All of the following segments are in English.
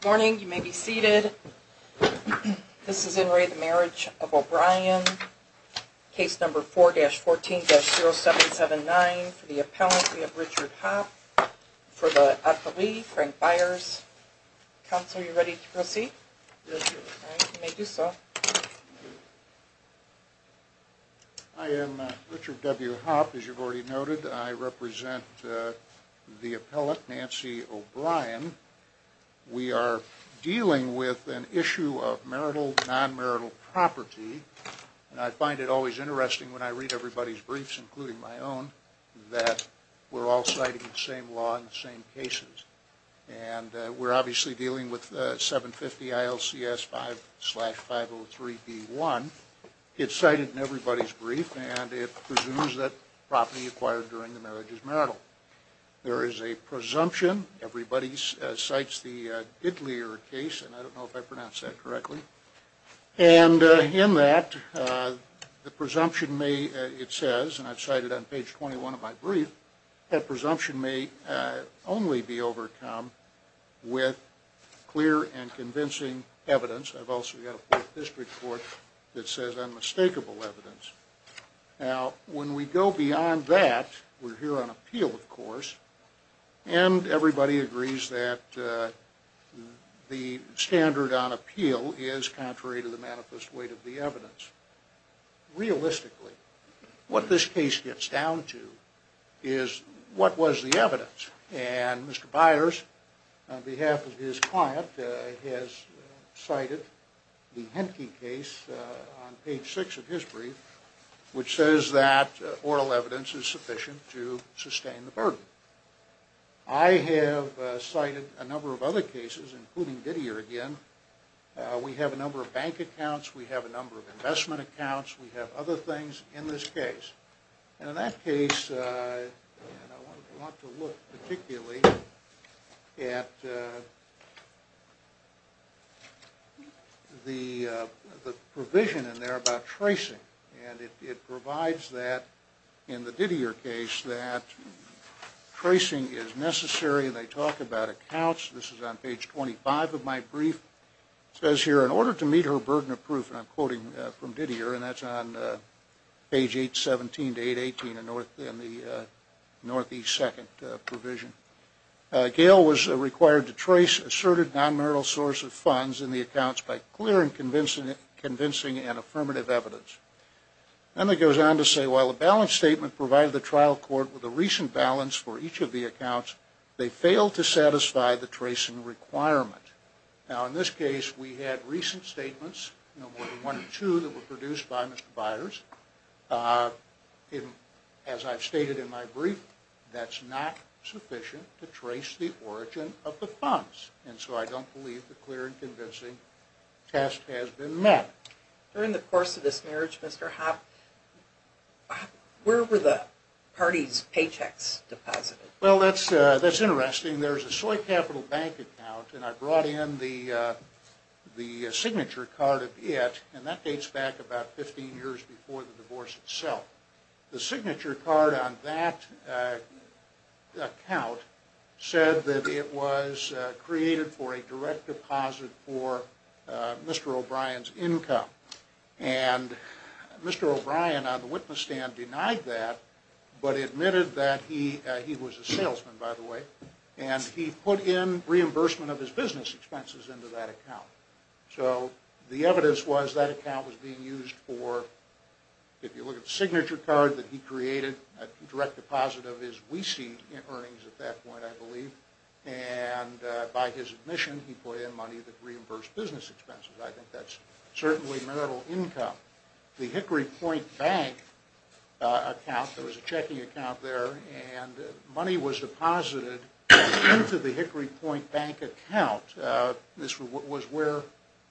Good morning, you may be seated. This is in re the marriage of O'Bryan. Case number 4-14-0779 for the appellant. We have Richard Hopp for the appellee, Frank Byers. Counselor, are you ready to proceed? I am Richard W. Hopp, as you've already noted. I represent the appellant, Nancy O'Bryan. We are dealing with an issue of marital, non-marital property. And I find it always interesting when I read everybody's briefs, including my own, that we're all citing the same law and the same cases. And we're obviously dealing with 750 ILCS 5-503B1. It's cited in everybody's brief, and it presumes that property acquired during the marriage is marital. There is a presumption. Everybody cites the Didlier case, and I don't know if I pronounced that correctly. And in that, the presumption may, it says, and I've cited it on page 21 of my brief, that presumption may only be overcome with clear and convincing evidence. I've also got a fourth district court that says unmistakable evidence. Now, when we go beyond that, we're here on appeal, of course, and everybody agrees that the standard on appeal is contrary to the manifest weight of the evidence. Realistically, what this case gets down to is what was the evidence. And Mr. Byers, on behalf of his client, has cited the Henke case on page 6 of his brief, which says that oral evidence is sufficient to sustain the burden. I have cited a number of other cases, including Didlier again. We have a number of bank accounts. We have a number of investment accounts. We have other things in this case. And in that case, I want to look particularly at the provision in there about tracing. And it provides that, in the Didlier case, that tracing is necessary. And they talk about accounts. This is on page 25 of my brief. It says here, in order to meet her burden of proof, and I'm quoting from Didlier, and that's on page 817 to 818 in the northeast second provision, Gail was required to trace asserted nonmerital source of funds in the accounts by clearing, convincing, and affirmative evidence. And it goes on to say, while the balance statement provided the trial court with a recent balance for each of the accounts, they failed to satisfy the tracing requirement. Now, in this case, we had recent statements, one or two that were produced by Mr. Byers. As I've stated in my brief, that's not sufficient to trace the origin of the funds. And so I don't believe the clear and convincing test has been met. During the course of this marriage, Mr. Hoppe, where were the parties' paychecks deposited? Well, that's interesting. There's a Soy Capital Bank account, and I brought in the signature card of it, and that dates back about 15 years before the divorce itself. The signature card on that account said that it was created for a direct deposit for Mr. O'Brien's income. And Mr. O'Brien, on the witness stand, denied that, but admitted that he was a salesman, by the way, and he put in reimbursement of his business expenses into that account. So the evidence was that account was being used for, if you look at the signature card that he created, a direct deposit of his WECE earnings at that point, I believe, and by his admission, he put in money that reimbursed business expenses. I think that's certainly marital income. The Hickory Point Bank account, there was a checking account there, and money was deposited into the Hickory Point Bank account. This was where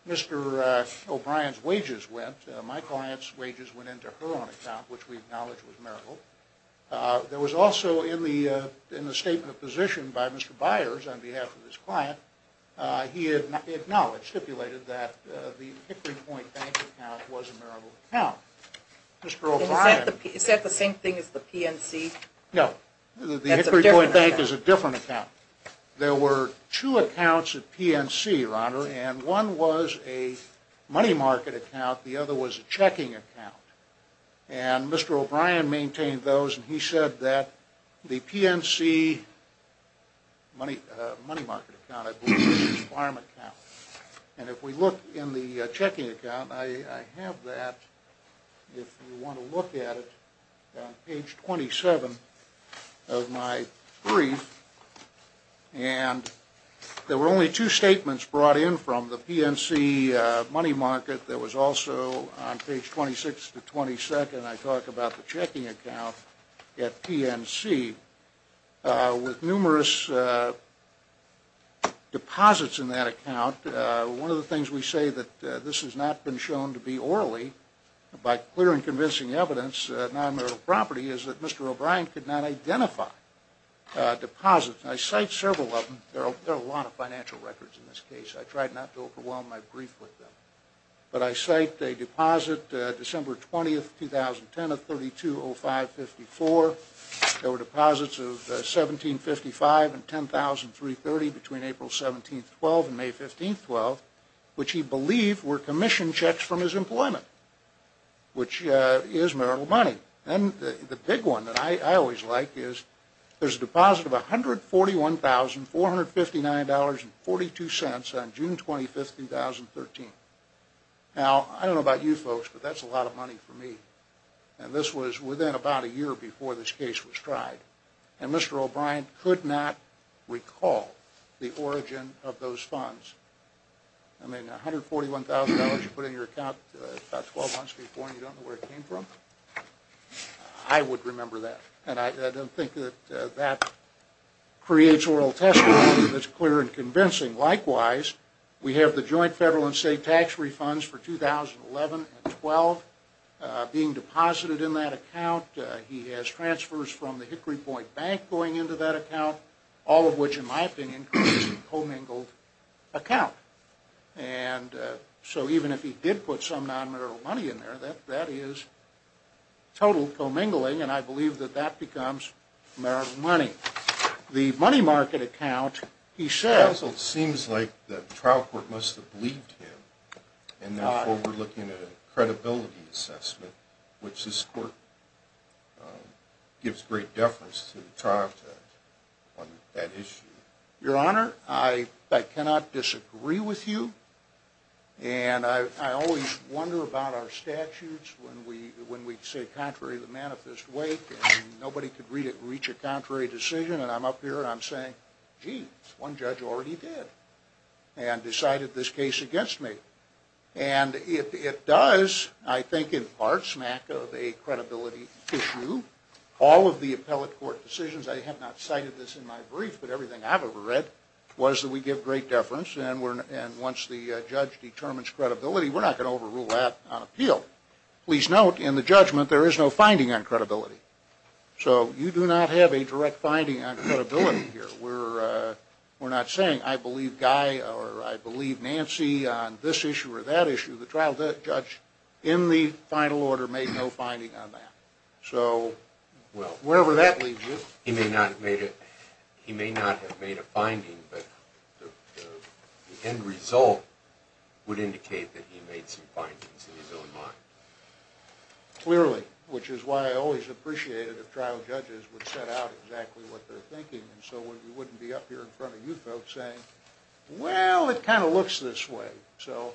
Mr. O'Brien's wages went. My client's wages went into her own account, which we acknowledge was marital. There was also, in the statement of position by Mr. Byers on behalf of his client, he acknowledged, stipulated, that the Hickory Point Bank account was a marital account. Mr. O'Brien... Is that the same thing as the PNC? No. The Hickory Point Bank is a different account. There were two accounts at PNC, your honor, and one was a money market account, the other was a checking account. And Mr. O'Brien maintained those, and he said that the PNC money market account, I believe, was his farm account. And if we look in the checking account, I have that, if you want to look at it, on page 27 of my brief, and there were only two statements brought in from the PNC money market. There was also, on page 26 to 22nd, I talk about the checking account at PNC. With numerous deposits in that account, one of the things we say that this has not been shown to be orally, by clear and convincing evidence, non-marital property, is that Mr. O'Brien could not identify deposits. I cite several of them. There are a lot of financial records in this case. I tried not to overwhelm my brief with them. But I cite a deposit, December 20th, 2010, of $3205.54. There were deposits of $1755 and $10,330 between April 17th, 12th and May 15th, 12th, which he believed were commission checks from his employment, which is marital money. And the big one that I always like is there's a deposit of $141,459.42 on June 25th, 2013. Now, I don't know about you folks, but that's a lot of money for me. And this was within about a year before this case was tried. And Mr. O'Brien could not recall the origin of those funds. I mean, $141,000 you put in your account about 12 months before and you don't know where it came from? I would remember that. And I don't think that that creates oral testimony that's clear and convincing. And likewise, we have the joint federal and state tax refunds for 2011 and 2012 being deposited in that account. He has transfers from the Hickory Point Bank going into that account, all of which, in my opinion, creates a commingled account. And so even if he did put some non-marital money in there, that is total commingling and I believe that that becomes marital money. The money market account, he said... Counsel, it seems like the trial court must have believed him. And therefore, we're looking at a credibility assessment, which this court gives great deference to the trial court on that issue. Your Honor, I cannot disagree with you. And I always wonder about our statutes when we say contrary to the manifest weight and nobody could reach a contrary decision and I'm up here and I'm saying, gee, one judge already did and decided this case against me. And it does, I think, in part, smack of a credibility issue. All of the appellate court decisions, I have not cited this in my brief, but everything I've ever read, was that we give great deference and once the judge determines credibility, we're not going to overrule that on appeal. Please note, in the judgment, there is no finding on credibility. So you do not have a direct finding on credibility here. We're not saying, I believe Guy or I believe Nancy on this issue or that issue. The trial judge, in the final order, made no finding on that. Well, wherever that leads you. He may not have made a finding, but the end result would indicate that he made some findings in his own mind. Clearly, which is why I always appreciated if trial judges would set out exactly what they're thinking so we wouldn't be up here in front of you folks saying, well, it kind of looks this way. So,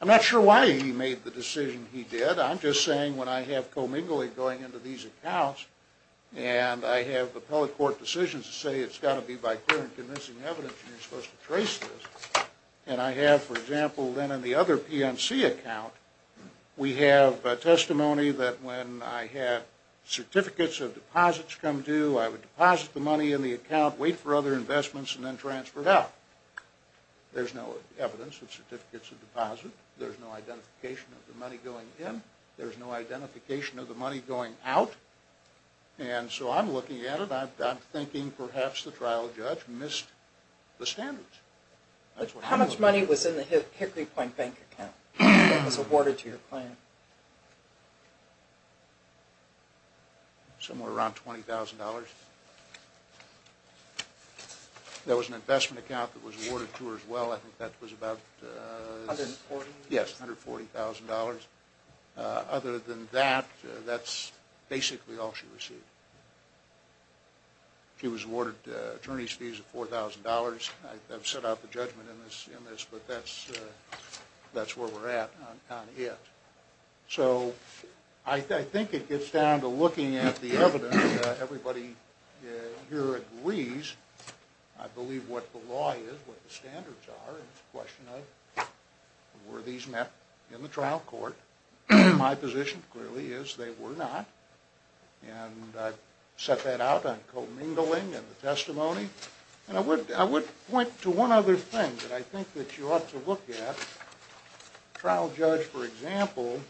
I'm not sure why he made the decision he did. I'm just saying when I have co-mingling going into these accounts and I have appellate court decisions that say it's got to be by clear and convincing evidence and you're supposed to trace this. And I have, for example, then in the other PNC account, we have testimony that when I had certificates of deposits come due, I would deposit the money in the account, wait for other investments, and then transfer it out. There's no evidence of certificates of deposit. There's no identification of the money going in. There's no identification of the money going out. And so I'm looking at it, I'm thinking perhaps the trial judge missed the standards. How much money was in the Hickory Point bank account that was awarded to your plan? Somewhere around $20,000. There was an investment account that was awarded to her as well. I think that was about $140,000. Other than that, that's basically all she received. She was awarded attorney's fees of $4,000. I've set out the judgment in this, but that's where we're at on it. So I think it gets down to looking at the evidence. Everybody here agrees, I believe, what the law is, what the standards are. It's a question of were these met in the trial court. My position clearly is they were not. And I've set that out on commingling and the testimony. I would point to one other thing that I think you ought to look at. The trial judge, for example,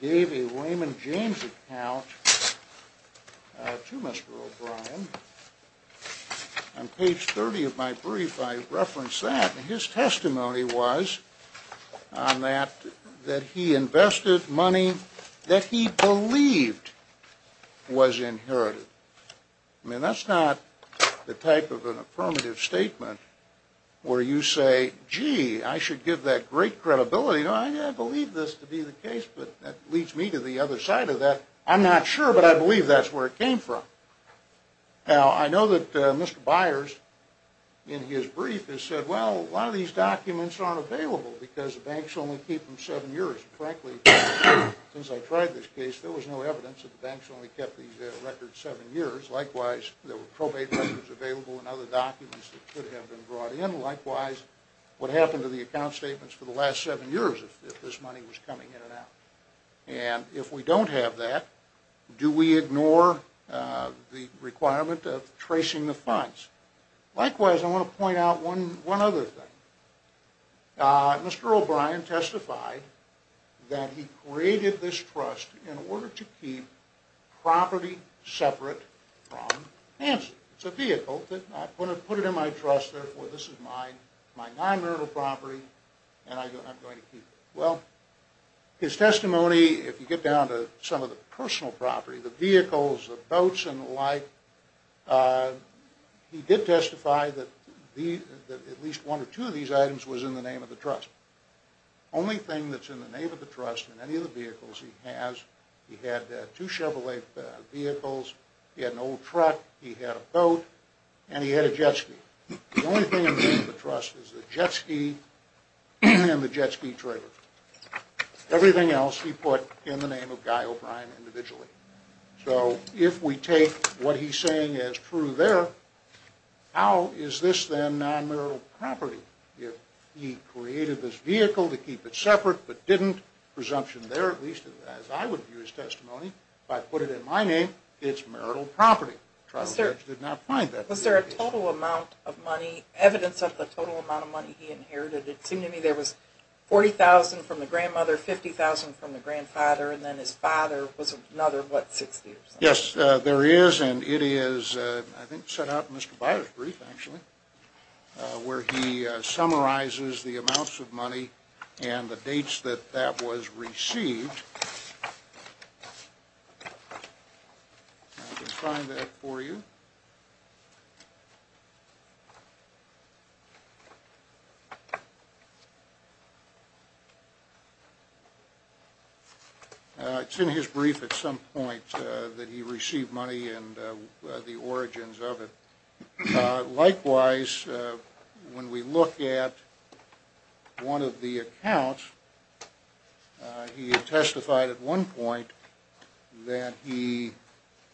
gave a Wayman James account to Mr. O'Brien. On page 30 of my brief, I reference that. His testimony was that he invested money that he believed was inherited. That's not the type of an affirmative statement where you say, gee, I should give that great credibility. I believe this to be the case, but that leads me to the other side of that. I'm not sure, but I believe that's where it came from. Now, I know that Mr. Byers, in his brief, has said, well, a lot of these documents aren't available because the banks only keep them seven years. Frankly, since I tried this case, there was no evidence that the banks only kept these records seven years. Likewise, there were probate records available and other documents that could have been brought in. Likewise, what happened to the account statements for the last seven years if this money was coming in and out? And if we don't have that, do we ignore the requirement of tracing the funds? Likewise, I want to point out one other thing. Mr. O'Brien testified that he created this trust in order to keep property separate from Hanson. It's a vehicle. I put it in my trust. Therefore, this is my non-murder property, and I'm going to keep it. Well, his testimony, if you get down to some of the personal property, the vehicles, the boats, and the like, he did testify that at least one or two of these items was in the name of the trust. The only thing that's in the name of the trust in any of the vehicles he has, he had two Chevrolet vehicles, he had an old truck, he had a boat, and he had a jet ski. The only thing in the name of the trust is the jet ski and the jet ski trailer. Everything else he put in the name of Guy O'Brien individually. So if we take what he's saying as true there, how is this then non-murder property? If he created this vehicle to keep it separate but didn't, presumption there, at least as I would view his testimony, if I put it in my name, it's murder property. Was there a total amount of money, evidence of the total amount of money he inherited? It seemed to me there was $40,000 from the grandmother, $50,000 from the grandfather, and then his father was another, what, 60%? Yes, there is, and it is, I think, set out in Mr. Byers' brief, actually, where he summarizes the amounts of money and the dates that that was received. And I can sign that for you. It's in his brief at some point that he received money and the origins of it. Likewise, when we look at one of the accounts, he testified at one point that he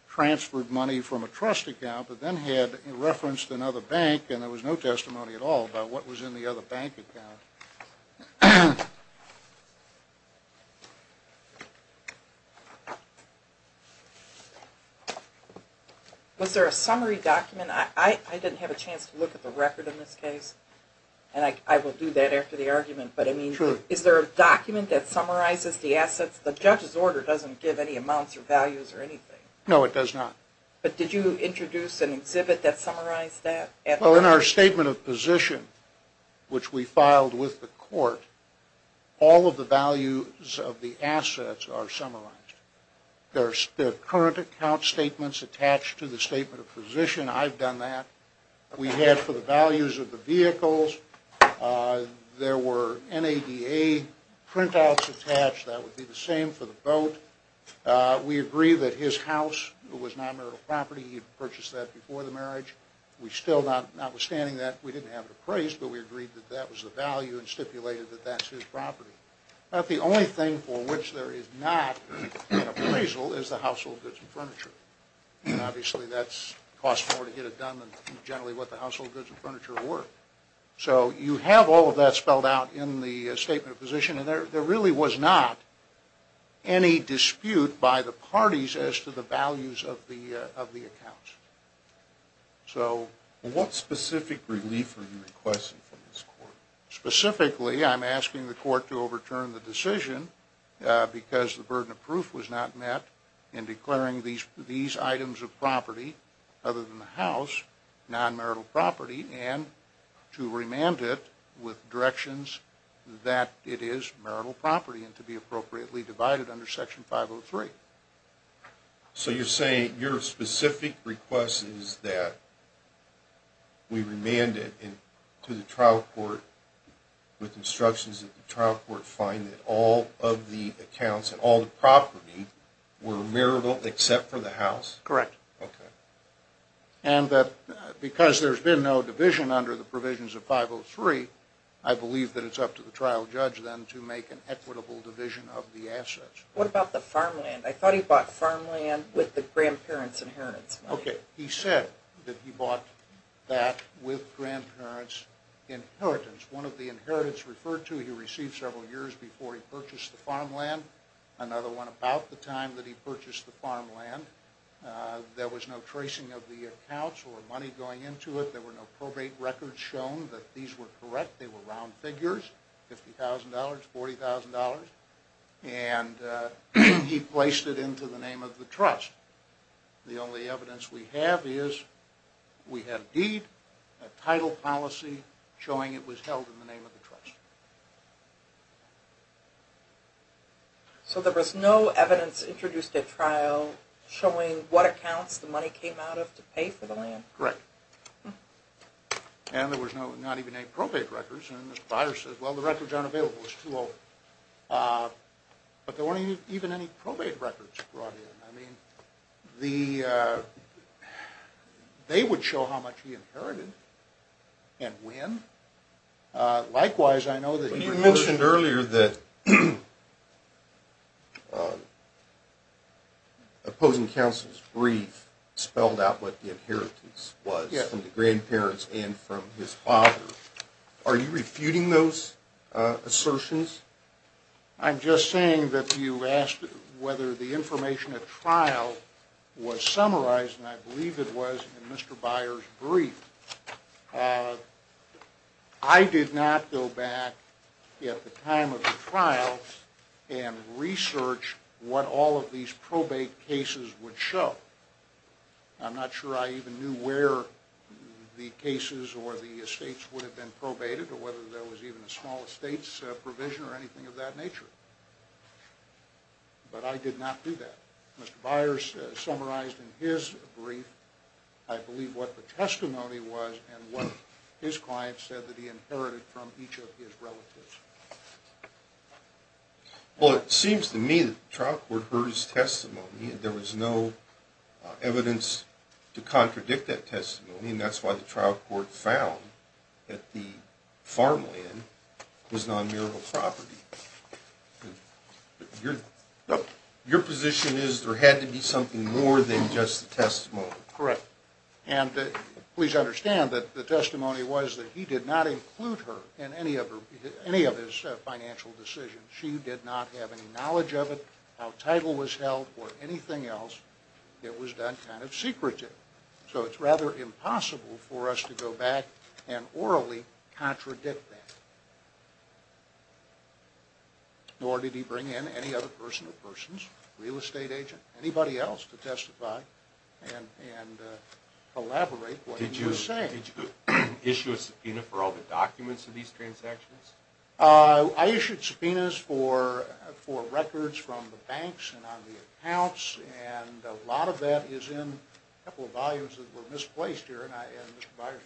transferred money from a trust account but then had referenced another bank and there was no testimony at all about what was in the other bank account. Was there a summary document? I didn't have a chance to look at the record in this case, and I will do that after the argument, but I mean, is there a document that summarizes the assets? The judge's order doesn't give any amounts or values or anything. No, it does not. But did you introduce an exhibit that summarized that? Well, in our statement of position, which we filed with the court, all of the values of the assets are summarized. There are current account statements attached to the statement of position. I've done that. We have for the values of the vehicles. There were NADA printouts attached. That would be the same for the boat. We agree that his house was non-marital property. He purchased that before the marriage. We still, notwithstanding that, we didn't have it appraised, but we agreed that that was the value and stipulated that that's his property. About the only thing for which there is not an appraisal is the household goods and furniture. Obviously, that costs more to get it done than generally what the household goods and furniture were. So you have all of that spelled out in the statement of position, and there really was not any dispute by the parties as to the values of the accounts. What specific relief are you requesting from this court? Specifically, I'm asking the court to overturn the decision because the burden of proof was not met in declaring these items of property, other than the house, non-marital property, and to remand it with directions that it is marital property and to be appropriately divided under Section 503. So you're saying your specific request is that we remand it to the trial court with instructions that the trial court find that all of the accounts and all the property were marital except for the house? Correct. Okay. And that because there's been no division under the provisions of 503, I believe that it's up to the trial judge then to make an equitable division of the assets. What about the farmland? I thought he bought farmland with the grandparents' inheritance money. Okay. He said that he bought that with grandparents' inheritance. One of the inheritance referred to he received several years before he purchased the farmland, another one about the time that he purchased the farmland. There was no tracing of the accounts or money going into it. There were no probate records shown that these were correct. They were round figures, $50,000, $40,000. And he placed it into the name of the trust. The only evidence we have is we have deed, a title policy showing it was held in the name of the trust. So there was no evidence introduced at trial showing what accounts the money came out of to pay for the land? Correct. And there was not even any probate records. And the provider said, well, the records aren't available. It's too old. But there weren't even any probate records brought in. I mean, they would show how much he inherited and when. Likewise, I know that he referred to the- But you mentioned earlier that opposing counsel's brief spelled out what the inheritance was from the grandparents and from his father. Are you refuting those assertions? I'm just saying that you asked whether the information at trial was summarized, and I believe it was, in Mr. Byer's brief. I did not go back at the time of the trial and research what all of these probate cases would show. I'm not sure I even knew where the cases or the estates would have been probated or whether there was even a small estates provision or anything of that nature. But I did not do that. Mr. Byer summarized in his brief, I believe, what the testimony was and what his client said that he inherited from each of his relatives. Well, it seems to me that the trial court heard his testimony. There was no evidence to contradict that testimony, and that's why the trial court found that the farmland was non-murial property. Your position is there had to be something more than just the testimony. Correct. And please understand that the testimony was that he did not include her in any of his financial decisions. She did not have any knowledge of it, how title was held, or anything else. It was done kind of secretive. So it's rather impossible for us to go back and orally contradict that. Nor did he bring in any other person or persons, real estate agent, anybody else, to testify and collaborate what he was saying. Did you issue a subpoena for all the documents of these transactions? I issued subpoenas for records from the banks and on the accounts, and a lot of that is in a couple of volumes that were misplaced here, and Mr. Byers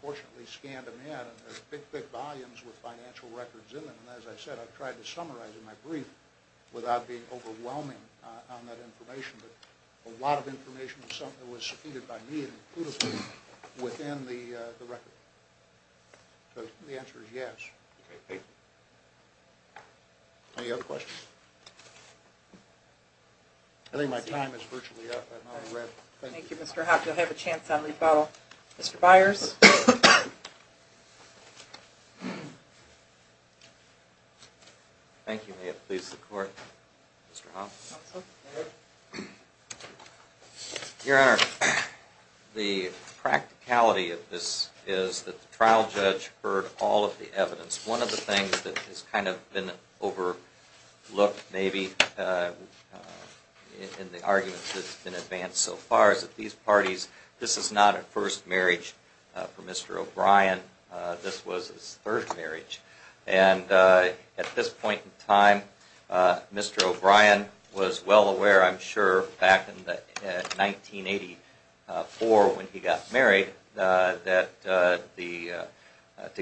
fortunately scanned them in. There's big, big volumes with financial records in them, and as I said, I've tried to summarize in my brief without being overwhelming on that information, but a lot of information was subpoenaed by me, including within the record. So the answer is yes. Okay. Any other questions? I think my time is virtually up. Thank you, Mr. Hoppe. You'll have a chance on rebuttal. Mr. Byers? Thank you, ma'am. Please support Mr. Hoppe. Your Honor, the practicality of this is that the trial judge heard all of the evidence. One of the things that has kind of been overlooked maybe in the arguments that have been advanced so far is that these parties, this is not a first marriage for Mr. O'Brien. This was his third marriage, and at this point in time, Mr. O'Brien was well aware, I'm sure, back in 1984 when he got married to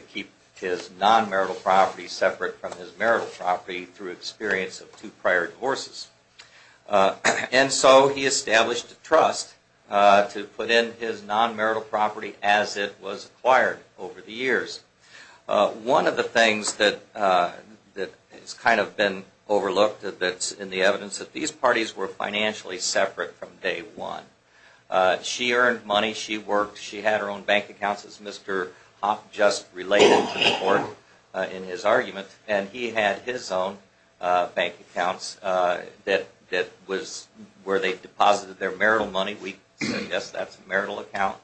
keep his non-marital property separate from his marital property through experience of two prior divorces. And so he established a trust to put in his non-marital property as it was acquired over the years. One of the things that has kind of been overlooked in the evidence is that these parties were financially separate from day one. She earned money. She worked. She had her own bank accounts, as Mr. Hoppe just related to the court in his argument. And he had his own bank accounts where they deposited their marital money. We suggest that's a marital account.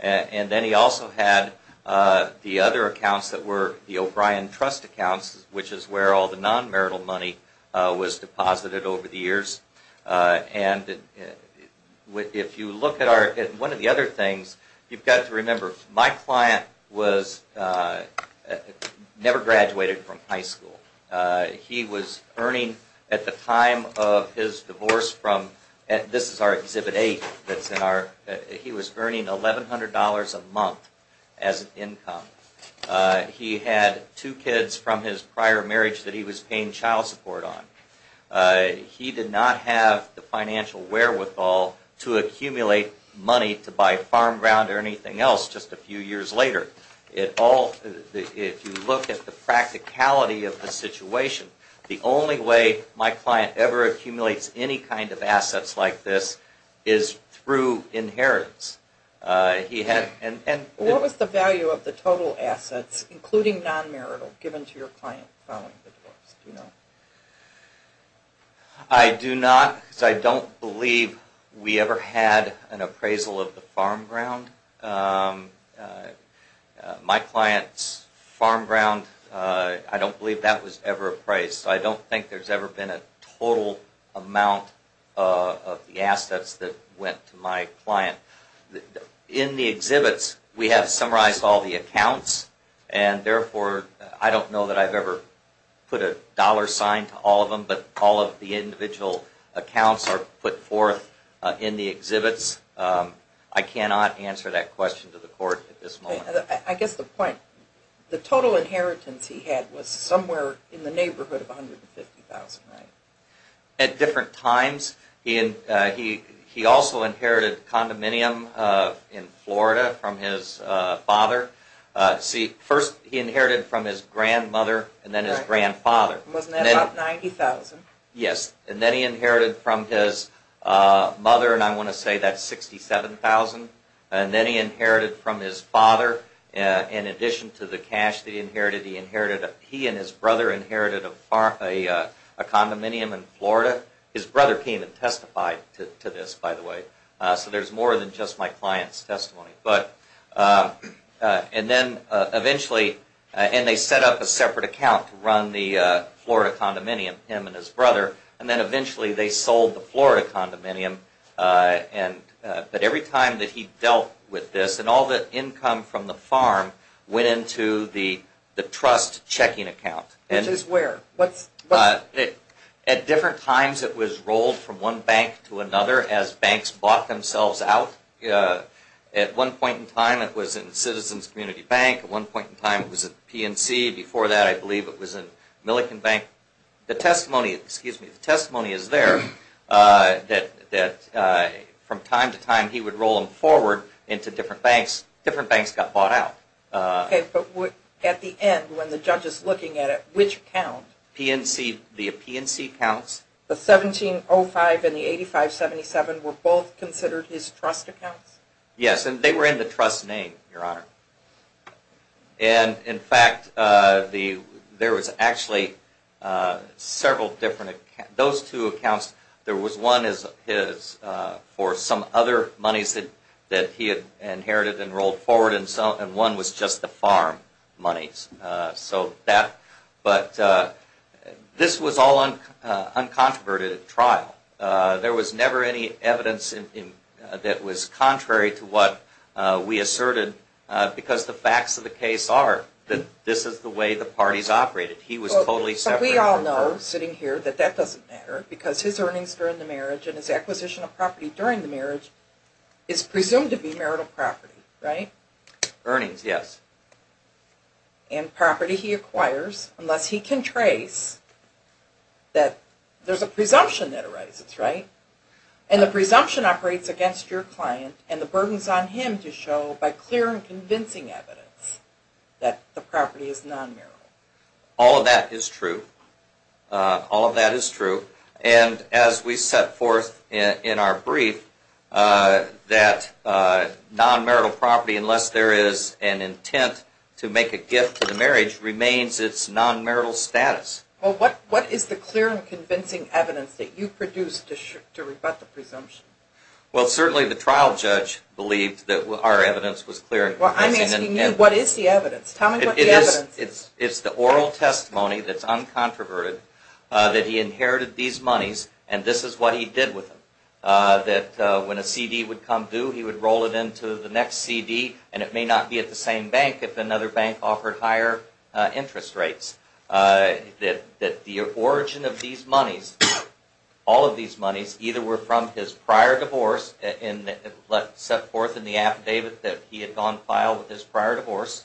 And then he also had the other accounts that were the O'Brien trust accounts, which is where all the non-marital money was deposited over the years. And if you look at one of the other things, you've got to remember, my client never graduated from high school. He was earning at the time of his divorce from, this is our Exhibit 8, he was earning $1,100 a month as an income. He had two kids from his prior marriage that he was paying child support on. He did not have the financial wherewithal to accumulate money to buy farm ground or anything else just a few years later. If you look at the practicality of the situation, the only way my client ever accumulates any kind of assets like this is through inheritance. What was the value of the total assets, including non-marital, given to your client following the divorce? I do not, because I don't believe we ever had an appraisal of the farm ground. My client's farm ground, I don't believe that was ever appraised. So I don't think there's ever been a total amount of the assets that went to my client. In the exhibits, we have summarized all the accounts, and therefore I don't know that I've ever put a dollar sign to all of them, but all of the individual accounts are put forth in the exhibits. I cannot answer that question to the court at this moment. I guess the point, the total inheritance he had was somewhere in the neighborhood of $150,000, right? At different times, he also inherited condominium in Florida from his father. See, first he inherited from his grandmother, and then his grandfather. Wasn't that about $90,000? Yes, and then he inherited from his mother, and I want to say that's $67,000. And then he inherited from his father, in addition to the cash that he inherited, he and his brother inherited a condominium in Florida. His brother came and testified to this, by the way. So there's more than just my client's testimony. And then eventually, and they set up a separate account to run the Florida condominium, him and his brother, and then eventually they sold the Florida condominium. But every time that he dealt with this, and all the income from the farm went into the trust checking account. Which is where? At different times, it was rolled from one bank to another as banks bought themselves out. At one point in time, it was in Citizens Community Bank. At one point in time, it was at PNC. Before that, I believe it was in Millican Bank. The testimony is there, that from time to time he would roll them forward into different banks. Different banks got bought out. Okay, but at the end, when the judge is looking at it, which account? The PNC accounts. The 1705 and the 8577 were both considered his trust accounts? Yes, and they were in the trust name, Your Honor. And in fact, there was actually several different accounts. Those two accounts, there was one for some other monies that he had inherited and rolled forward, and one was just the farm monies. So that, but this was all uncontroverted at trial. There was never any evidence that was contrary to what we asserted, because the facts of the case are that this is the way the parties operated. He was totally separate from her. But we all know, sitting here, that that doesn't matter, because his earnings during the marriage and his acquisition of property during the marriage is presumed to be marital property, right? Earnings, yes. And property he acquires, unless he can trace that there's a presumption that arises, right? And the presumption operates against your client, and the burden is on him to show by clear and convincing evidence that the property is non-marital. All of that is true. All of that is true. And as we set forth in our brief, that non-marital property, unless there is an intent to make a gift to the marriage, remains its non-marital status. Well, what is the clear and convincing evidence that you produced to rebut the presumption? Well, certainly the trial judge believed that our evidence was clear and convincing. Well, I'm asking you, what is the evidence? Tell me what the evidence is. It's the oral testimony that's uncontroverted that he inherited these monies, and this is what he did with them. That when a CD would come due, he would roll it into the next CD, and it may not be at the same bank if another bank offered higher interest rates. That the origin of these monies, all of these monies, either were from his prior divorce set forth in the affidavit that he had gone vile with his prior divorce,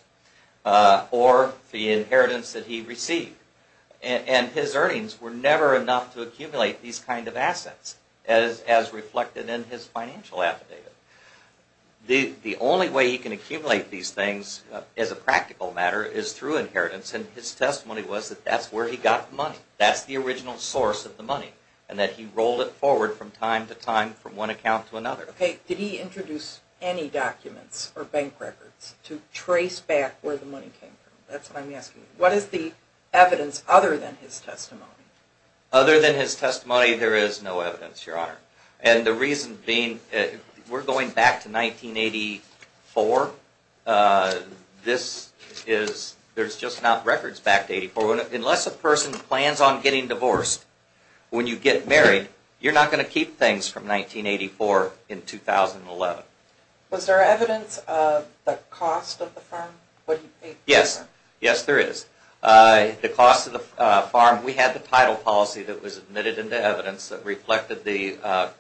or the inheritance that he received. And his earnings were never enough to accumulate these kind of assets, as reflected in his financial affidavit. The only way he can accumulate these things, as a practical matter, is through inheritance, and his testimony was that that's where he got the money. That's the original source of the money, and that he rolled it forward from time to time from one account to another. Okay, did he introduce any documents or bank records to trace back where the money came from? That's what I'm asking. What is the evidence other than his testimony? Other than his testimony, there is no evidence, Your Honor. And the reason being, we're going back to 1984. This is, there's just not records back to 1984. Unless a person plans on getting divorced, when you get married, you're not going to keep things from 1984 in 2011. Was there evidence of the cost of the farm? Yes, yes there is. The cost of the farm, we had the title policy that was admitted into evidence that reflected the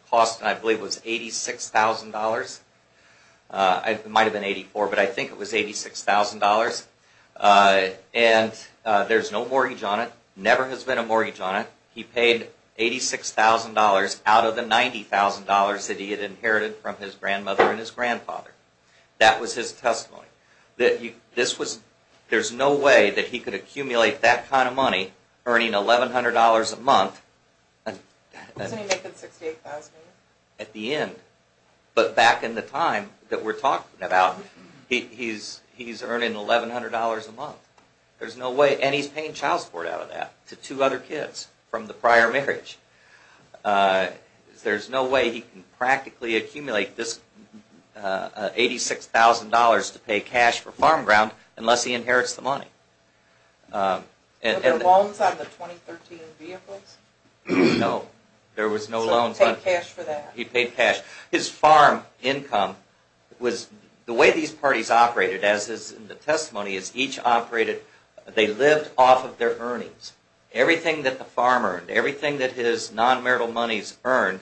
cost, and I believe it was $86,000. It might have been $84,000, but I think it was $86,000. And there's no mortgage on it, never has been a mortgage on it. He paid $86,000 out of the $90,000 that he had inherited from his grandmother and his grandfather. That was his testimony. There's no way that he could accumulate that kind of money, earning $1,100 a month. Doesn't he make that $68,000? At the end. But back in the time that we're talking about, he's earning $1,100 a month. And he's paying child support out of that to two other kids from the prior marriage. There's no way he can practically accumulate this $86,000 to pay cash for farm ground unless he inherits the money. Were there loans on the 2013 vehicles? No, there was no loans. So he paid cash for that? He paid cash. His farm income was, the way these parties operated, as is in the testimony, is each operated, they lived off of their earnings. Everything that the farmer earned, everything that his non-marital monies earned,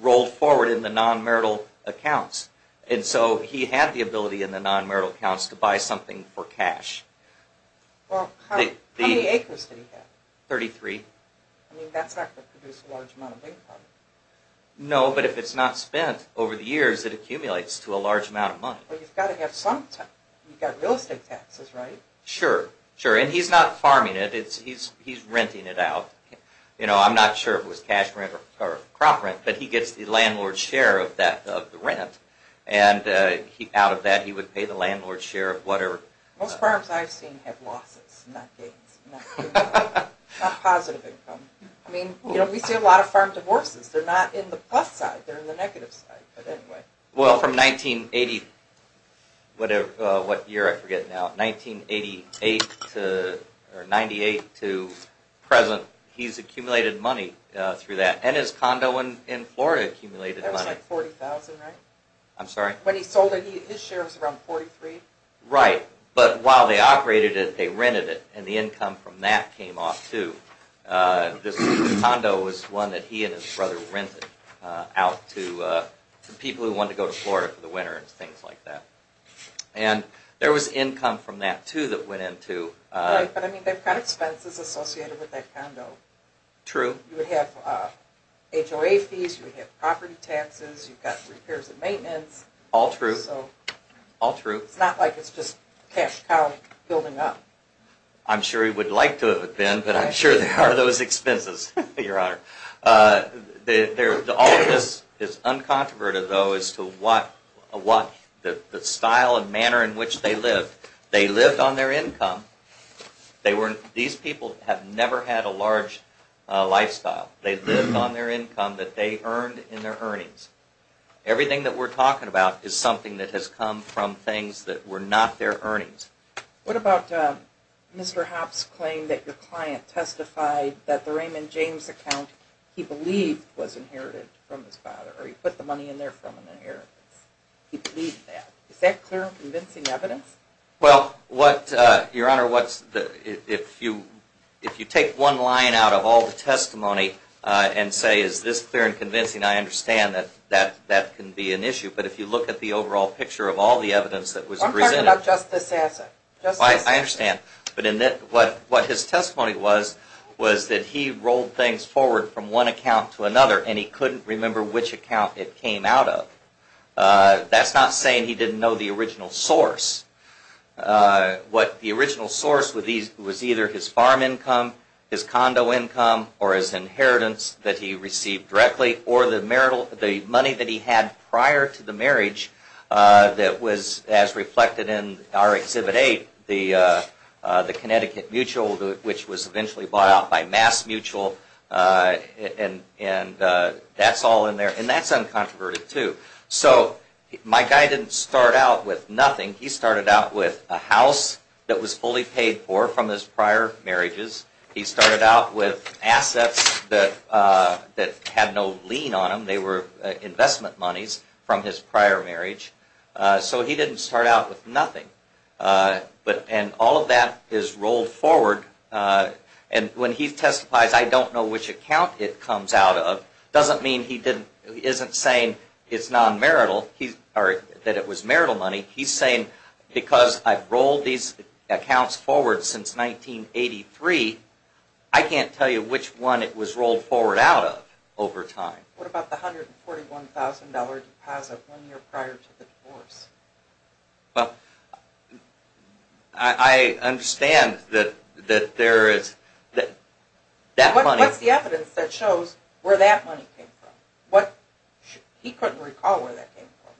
rolled forward in the non-marital accounts. And so he had the ability in the non-marital accounts to buy something for cash. How many acres did he have? 33. I mean, that's not going to produce a large amount of income. No, but if it's not spent over the years, it accumulates to a large amount of money. But you've got to have some tax. You've got real estate taxes, right? Sure, sure. And he's not farming it. He's renting it out. I'm not sure if it was cash rent or crop rent, but he gets the landlord's share of the rent. And out of that he would pay the landlord's share of whatever. Most farms I've seen have losses, not gains. Not positive income. I mean, we see a lot of farm divorces. They're not in the plus side. They're in the negative side. But anyway. Well, from 1980, whatever, what year? I forget now. 1988 to, or 98 to present, he's accumulated money through that. And his condo in Florida accumulated money. That was like $40,000, right? I'm sorry? When he sold it, his share was around $43,000. Right. But while they operated it, they rented it. And the income from that came off too. The condo was one that he and his brother rented out to people who wanted to go to Florida for the winter and things like that. And there was income from that too that went into... Right, but I mean, they've got expenses associated with that condo. True. You would have HOA fees. You would have property taxes. You've got repairs and maintenance. All true. All true. It's not like it's just cash cow building up. I'm sure he would like to have been, but I'm sure there are those expenses, Your Honor. All of this is uncontroverted, though, as to what the style and manner in which they lived. They lived on their income. These people have never had a large lifestyle. They lived on their income that they earned in their earnings. Everything that we're talking about is something that has come from things that were not their earnings. What about Mr. Hopps' claim that your client testified that the Raymond James account he believed was inherited from his father, or he put the money in there from an inheritance. He believed that. Is that clear and convincing evidence? Well, Your Honor, if you take one line out of all the testimony and say, is this clear and convincing, I understand that that can be an issue. But if you look at the overall picture of all the evidence that was presented... Just this answer. I understand. But what his testimony was was that he rolled things forward from one account to another, and he couldn't remember which account it came out of. That's not saying he didn't know the original source. What the original source was either his farm income, his condo income, or his inheritance that he received directly, or the money that he had prior to the marriage that was as reflected in our Exhibit 8, the Connecticut Mutual, which was eventually bought out by Mass Mutual, and that's all in there. And that's uncontroverted, too. So my guy didn't start out with nothing. He started out with a house that was fully paid for from his prior marriages. He started out with assets that had no lien on them. They were investment monies from his prior marriage. So he didn't start out with nothing. And all of that is rolled forward. And when he testifies, I don't know which account it comes out of, doesn't mean he isn't saying it's non-marital or that it was marital money. He's saying because I've rolled these accounts forward since 1983, I can't tell you which one it was rolled forward out of over time. What about the $141,000 deposit one year prior to the divorce? Well, I understand that there is that money. What's the evidence that shows where that money came from? He couldn't recall where that came from.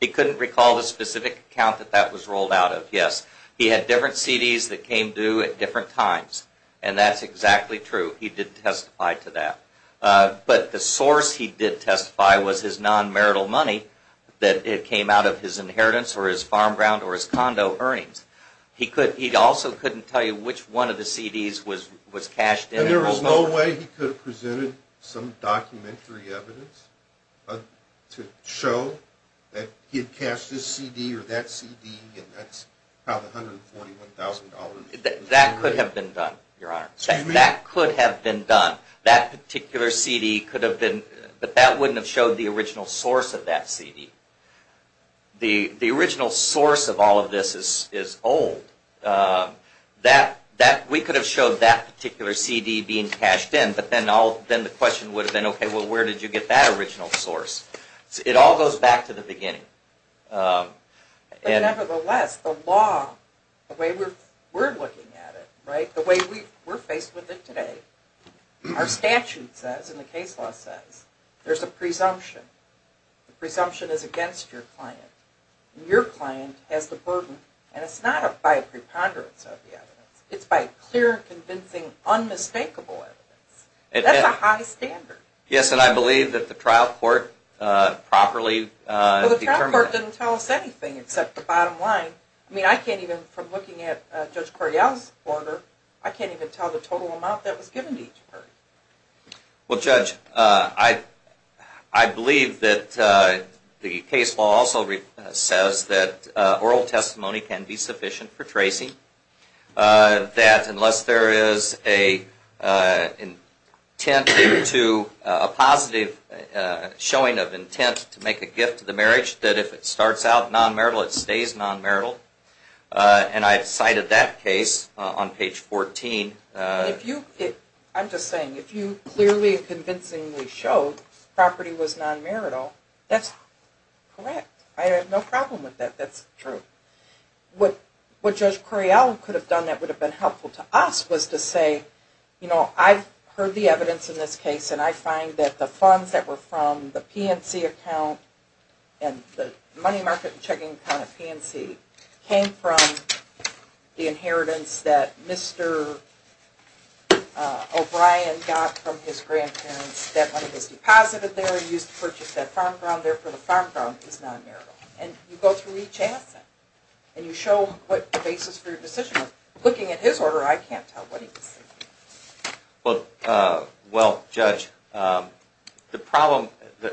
He couldn't recall the specific account that that was rolled out of, yes. He had different CDs that came due at different times. And that's exactly true. He did testify to that. But the source he did testify was his non-marital money that came out of his inheritance or his farm ground or his condo earnings. He also couldn't tell you which one of the CDs was cashed in. Then there was no way he could have presented some documentary evidence to show that he had cashed this CD or that CD and that's how the $141,000. That could have been done, Your Honor. That could have been done. That particular CD could have been, but that wouldn't have showed the original source of that CD. The original source of all of this is old. We could have showed that particular CD being cashed in, but then the question would have been, okay, well where did you get that original source? It all goes back to the beginning. Nevertheless, the law, the way we're looking at it, the way we're faced with it today, our statute says and the case law says, there's a presumption. The presumption is against your client. Your client has the burden, and it's not by a preponderance of the evidence. It's by clear, convincing, unmistakable evidence. That's a high standard. Yes, and I believe that the trial court properly determined that. Well, the trial court didn't tell us anything except the bottom line. I mean, I can't even, from looking at Judge Correal's order, I can't even tell the total amount that was given to each party. Well, Judge, I believe that the case law also says that oral testimony can be sufficient for tracing. That unless there is a positive showing of intent to make a gift to the marriage, that if it starts out non-marital, it stays non-marital. And I cited that case on page 14. I'm just saying, if you clearly and convincingly showed property was non-marital, that's correct. I have no problem with that. That's true. What Judge Correal could have done that would have been helpful to us was to say, you know, I've heard the evidence in this case, and I find that the funds that were from the PNC account and the money market and checking account at PNC came from the inheritance that Mr. O'Brien got from his grandparents. That money was deposited there and used to purchase that farm ground. Therefore, the farm ground is non-marital. And you go through each asset, and you show what the basis for your decision was. Looking at his order, I can't tell what he was thinking. Well, Judge, the problem,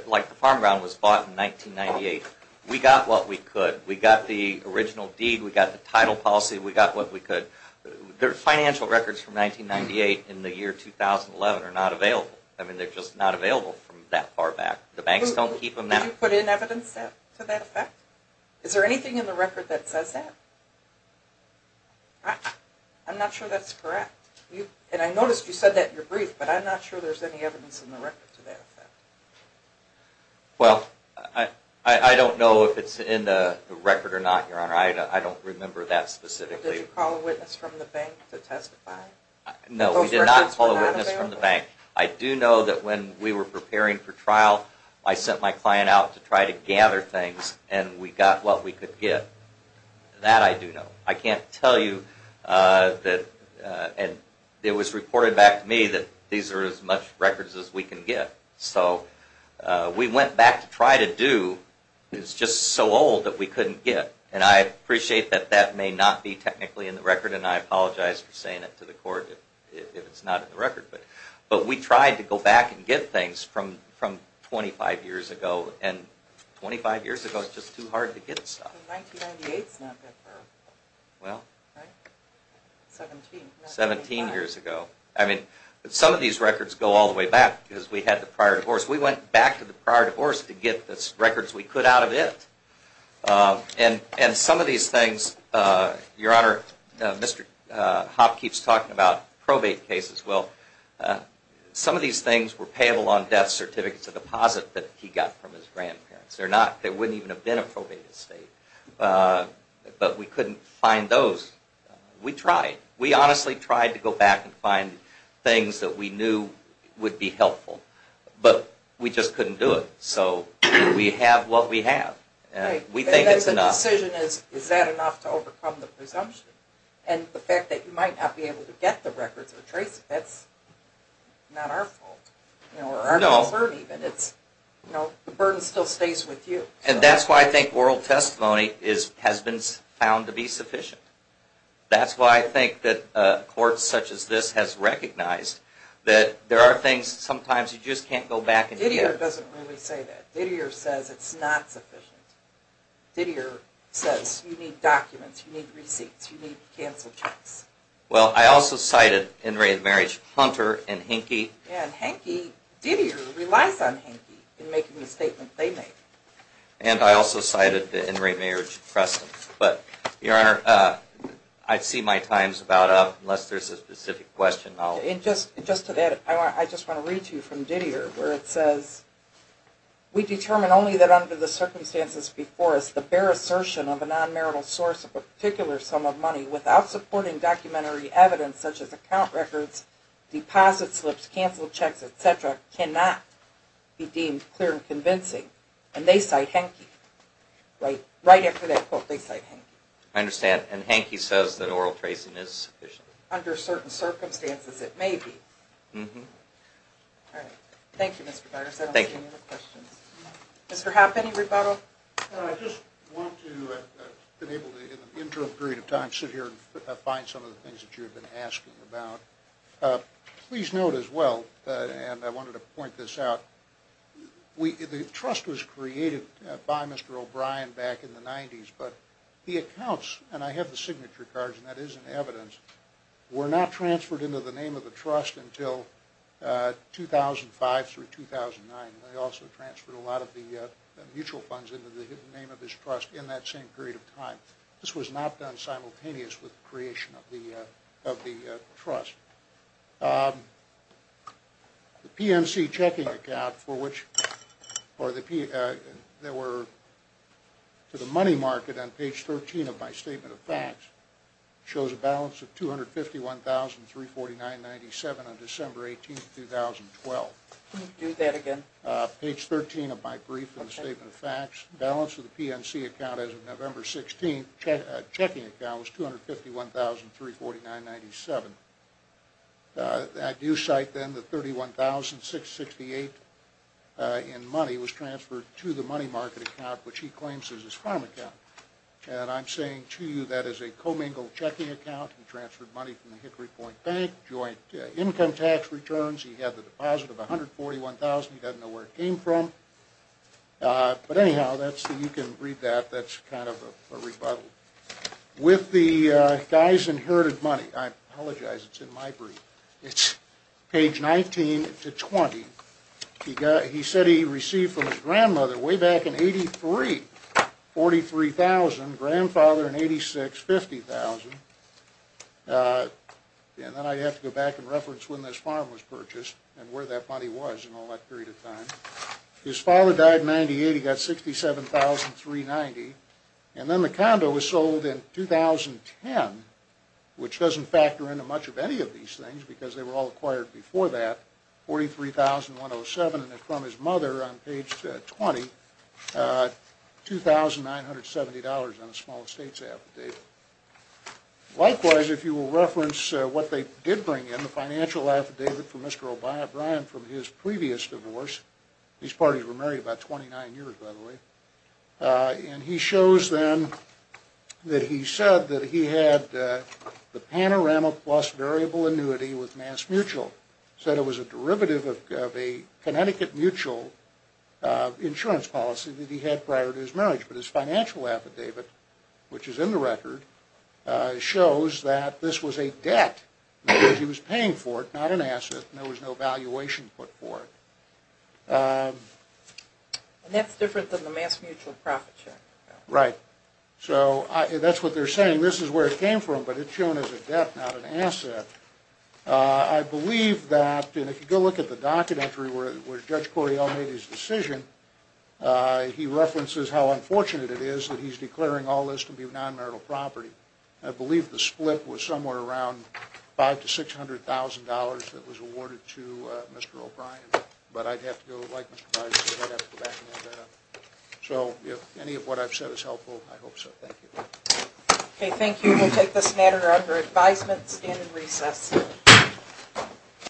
like the farm ground was bought in 1998, we got what we could. We got the original deed. We got the title policy. We got what we could. The financial records from 1998 and the year 2011 are not available. I mean, they're just not available from that far back. The banks don't keep them now. Did you put in evidence to that effect? Is there anything in the record that says that? I'm not sure that's correct. And I noticed you said that in your brief, but I'm not sure there's any evidence in the record to that effect. Well, I don't know if it's in the record or not, Your Honor. I don't remember that specifically. Did you call a witness from the bank to testify? No, we did not call a witness from the bank. I do know that when we were preparing for trial, I sent my client out to try to gather things, and we got what we could get. That I do know. I can't tell you that it was reported back to me that these are as much records as we can get. So we went back to try to do what was just so old that we couldn't get. And I appreciate that that may not be technically in the record, and I apologize for saying it to the court if it's not in the record. But we tried to go back and get things from 25 years ago, and 25 years ago is just too hard to get stuff. 1998's not that far. Well... 17. 17 years ago. I mean, some of these records go all the way back because we had the prior divorce. We went back to the prior divorce to get the records we could out of it. And some of these things... Your Honor, Mr. Hopp keeps talking about probate cases. Well, some of these things were payable on death certificates, a deposit that he got from his grandparents. They wouldn't even have been a probate estate. But we couldn't find those. We tried. We honestly tried to go back and find things that we knew would be helpful, but we just couldn't do it. So we have what we have. We think it's enough. And the decision is, is that enough to overcome the presumption? And the fact that you might not be able to get the records or trace it, that's not our fault. Or our concern, even. The burden still stays with you. And that's why I think oral testimony has been found to be sufficient. That's why I think that courts such as this has recognized that there are things sometimes you just can't go back and get. Didier doesn't really say that. Didier says it's not sufficient. Didier says you need documents, you need receipts, you need cancel checks. Well, I also cited in re-marriage Hunter and Henke. And Henke, Didier relies on Henke in making the statement they made. And I also cited in re-marriage Preston. But, Your Honor, I see my time's about up, unless there's a specific question. Just to that, I just want to read to you from Didier, where it says, We determine only that under the circumstances before us, the bare assertion of a non-marital source of a particular sum of money, without supporting documentary evidence such as account records, deposit slips, cancel checks, et cetera, cannot be deemed clear and convincing. And they cite Henke. Right after that quote, they cite Henke. I understand. And Henke says that oral tracing is sufficient. Under certain circumstances, it may be. Mm-hmm. All right. Thank you, Mr. Byers. I don't see any other questions. Thank you. Mr. Hoppe, any rebuttal? I just want to, in the interim period of time, sit here and find some of the things that you have been asking about. Please note as well, and I wanted to point this out, the trust was created by Mr. O'Brien back in the 90s, but the accounts, and I have the signature cards, and that is in evidence, were not transferred into the name of the trust until 2005 through 2009. They also transferred a lot of the mutual funds into the hidden name of this trust in that same period of time. This was not done simultaneous with the creation of the trust. The PNC checking account for which there were, to the money market on page 13 of my statement of facts, shows a balance of $251,349.97 on December 18th, 2012. Can you do that again? Page 13 of my brief in the statement of facts, the balance of the PNC account as of November 16th, was $251,349.97. I do cite then the $31,668 in money was transferred to the money market account, which he claims is his farm account. And I'm saying to you that is a commingled checking account. He transferred money from the Hickory Point Bank, joint income tax returns. He had the deposit of $141,000. He doesn't know where it came from. But anyhow, you can read that. That's kind of a rebuttal. With the guy's inherited money, I apologize, it's in my brief. It's page 19 to 20. He said he received from his grandmother way back in 83, 43,000, grandfather in 86, 50,000. And then I have to go back and reference when this farm was purchased and where that money was in all that period of time. His father died in 98. He got $67,390. And then the condo was sold in 2010, which doesn't factor into much of any of these things because they were all acquired before that, $43,107. And from his mother on page 20, $2,970 on a small estate affidavit. Likewise, if you will reference what they did bring in, the financial affidavit from Mr. O'Brien from his previous divorce. These parties were married about 29 years, by the way. And he shows then that he said that he had the Panorama Plus variable annuity with MassMutual. He said it was a derivative of a Connecticut Mutual insurance policy that he had prior to his marriage. But his financial affidavit, which is in the record, shows that this was a debt because he was paying for it, not an asset, and there was no valuation put for it. And that's different than the MassMutual profit check. Right. So that's what they're saying. This is where it came from, but it's shown as a debt, not an asset. I believe that, and if you go look at the docket entry where Judge Correale made his decision, he references how unfortunate it is that he's declaring all this to be non-marital property. I believe the split was somewhere around $500,000 to $600,000 that was awarded to Mr. O'Brien. But I'd have to go, like Mr. Bridesmaid, I'd have to go back and look that up. So if any of what I've said is helpful, I hope so. Thank you. Okay, thank you. We'll take this matter under advisement. Stand in recess.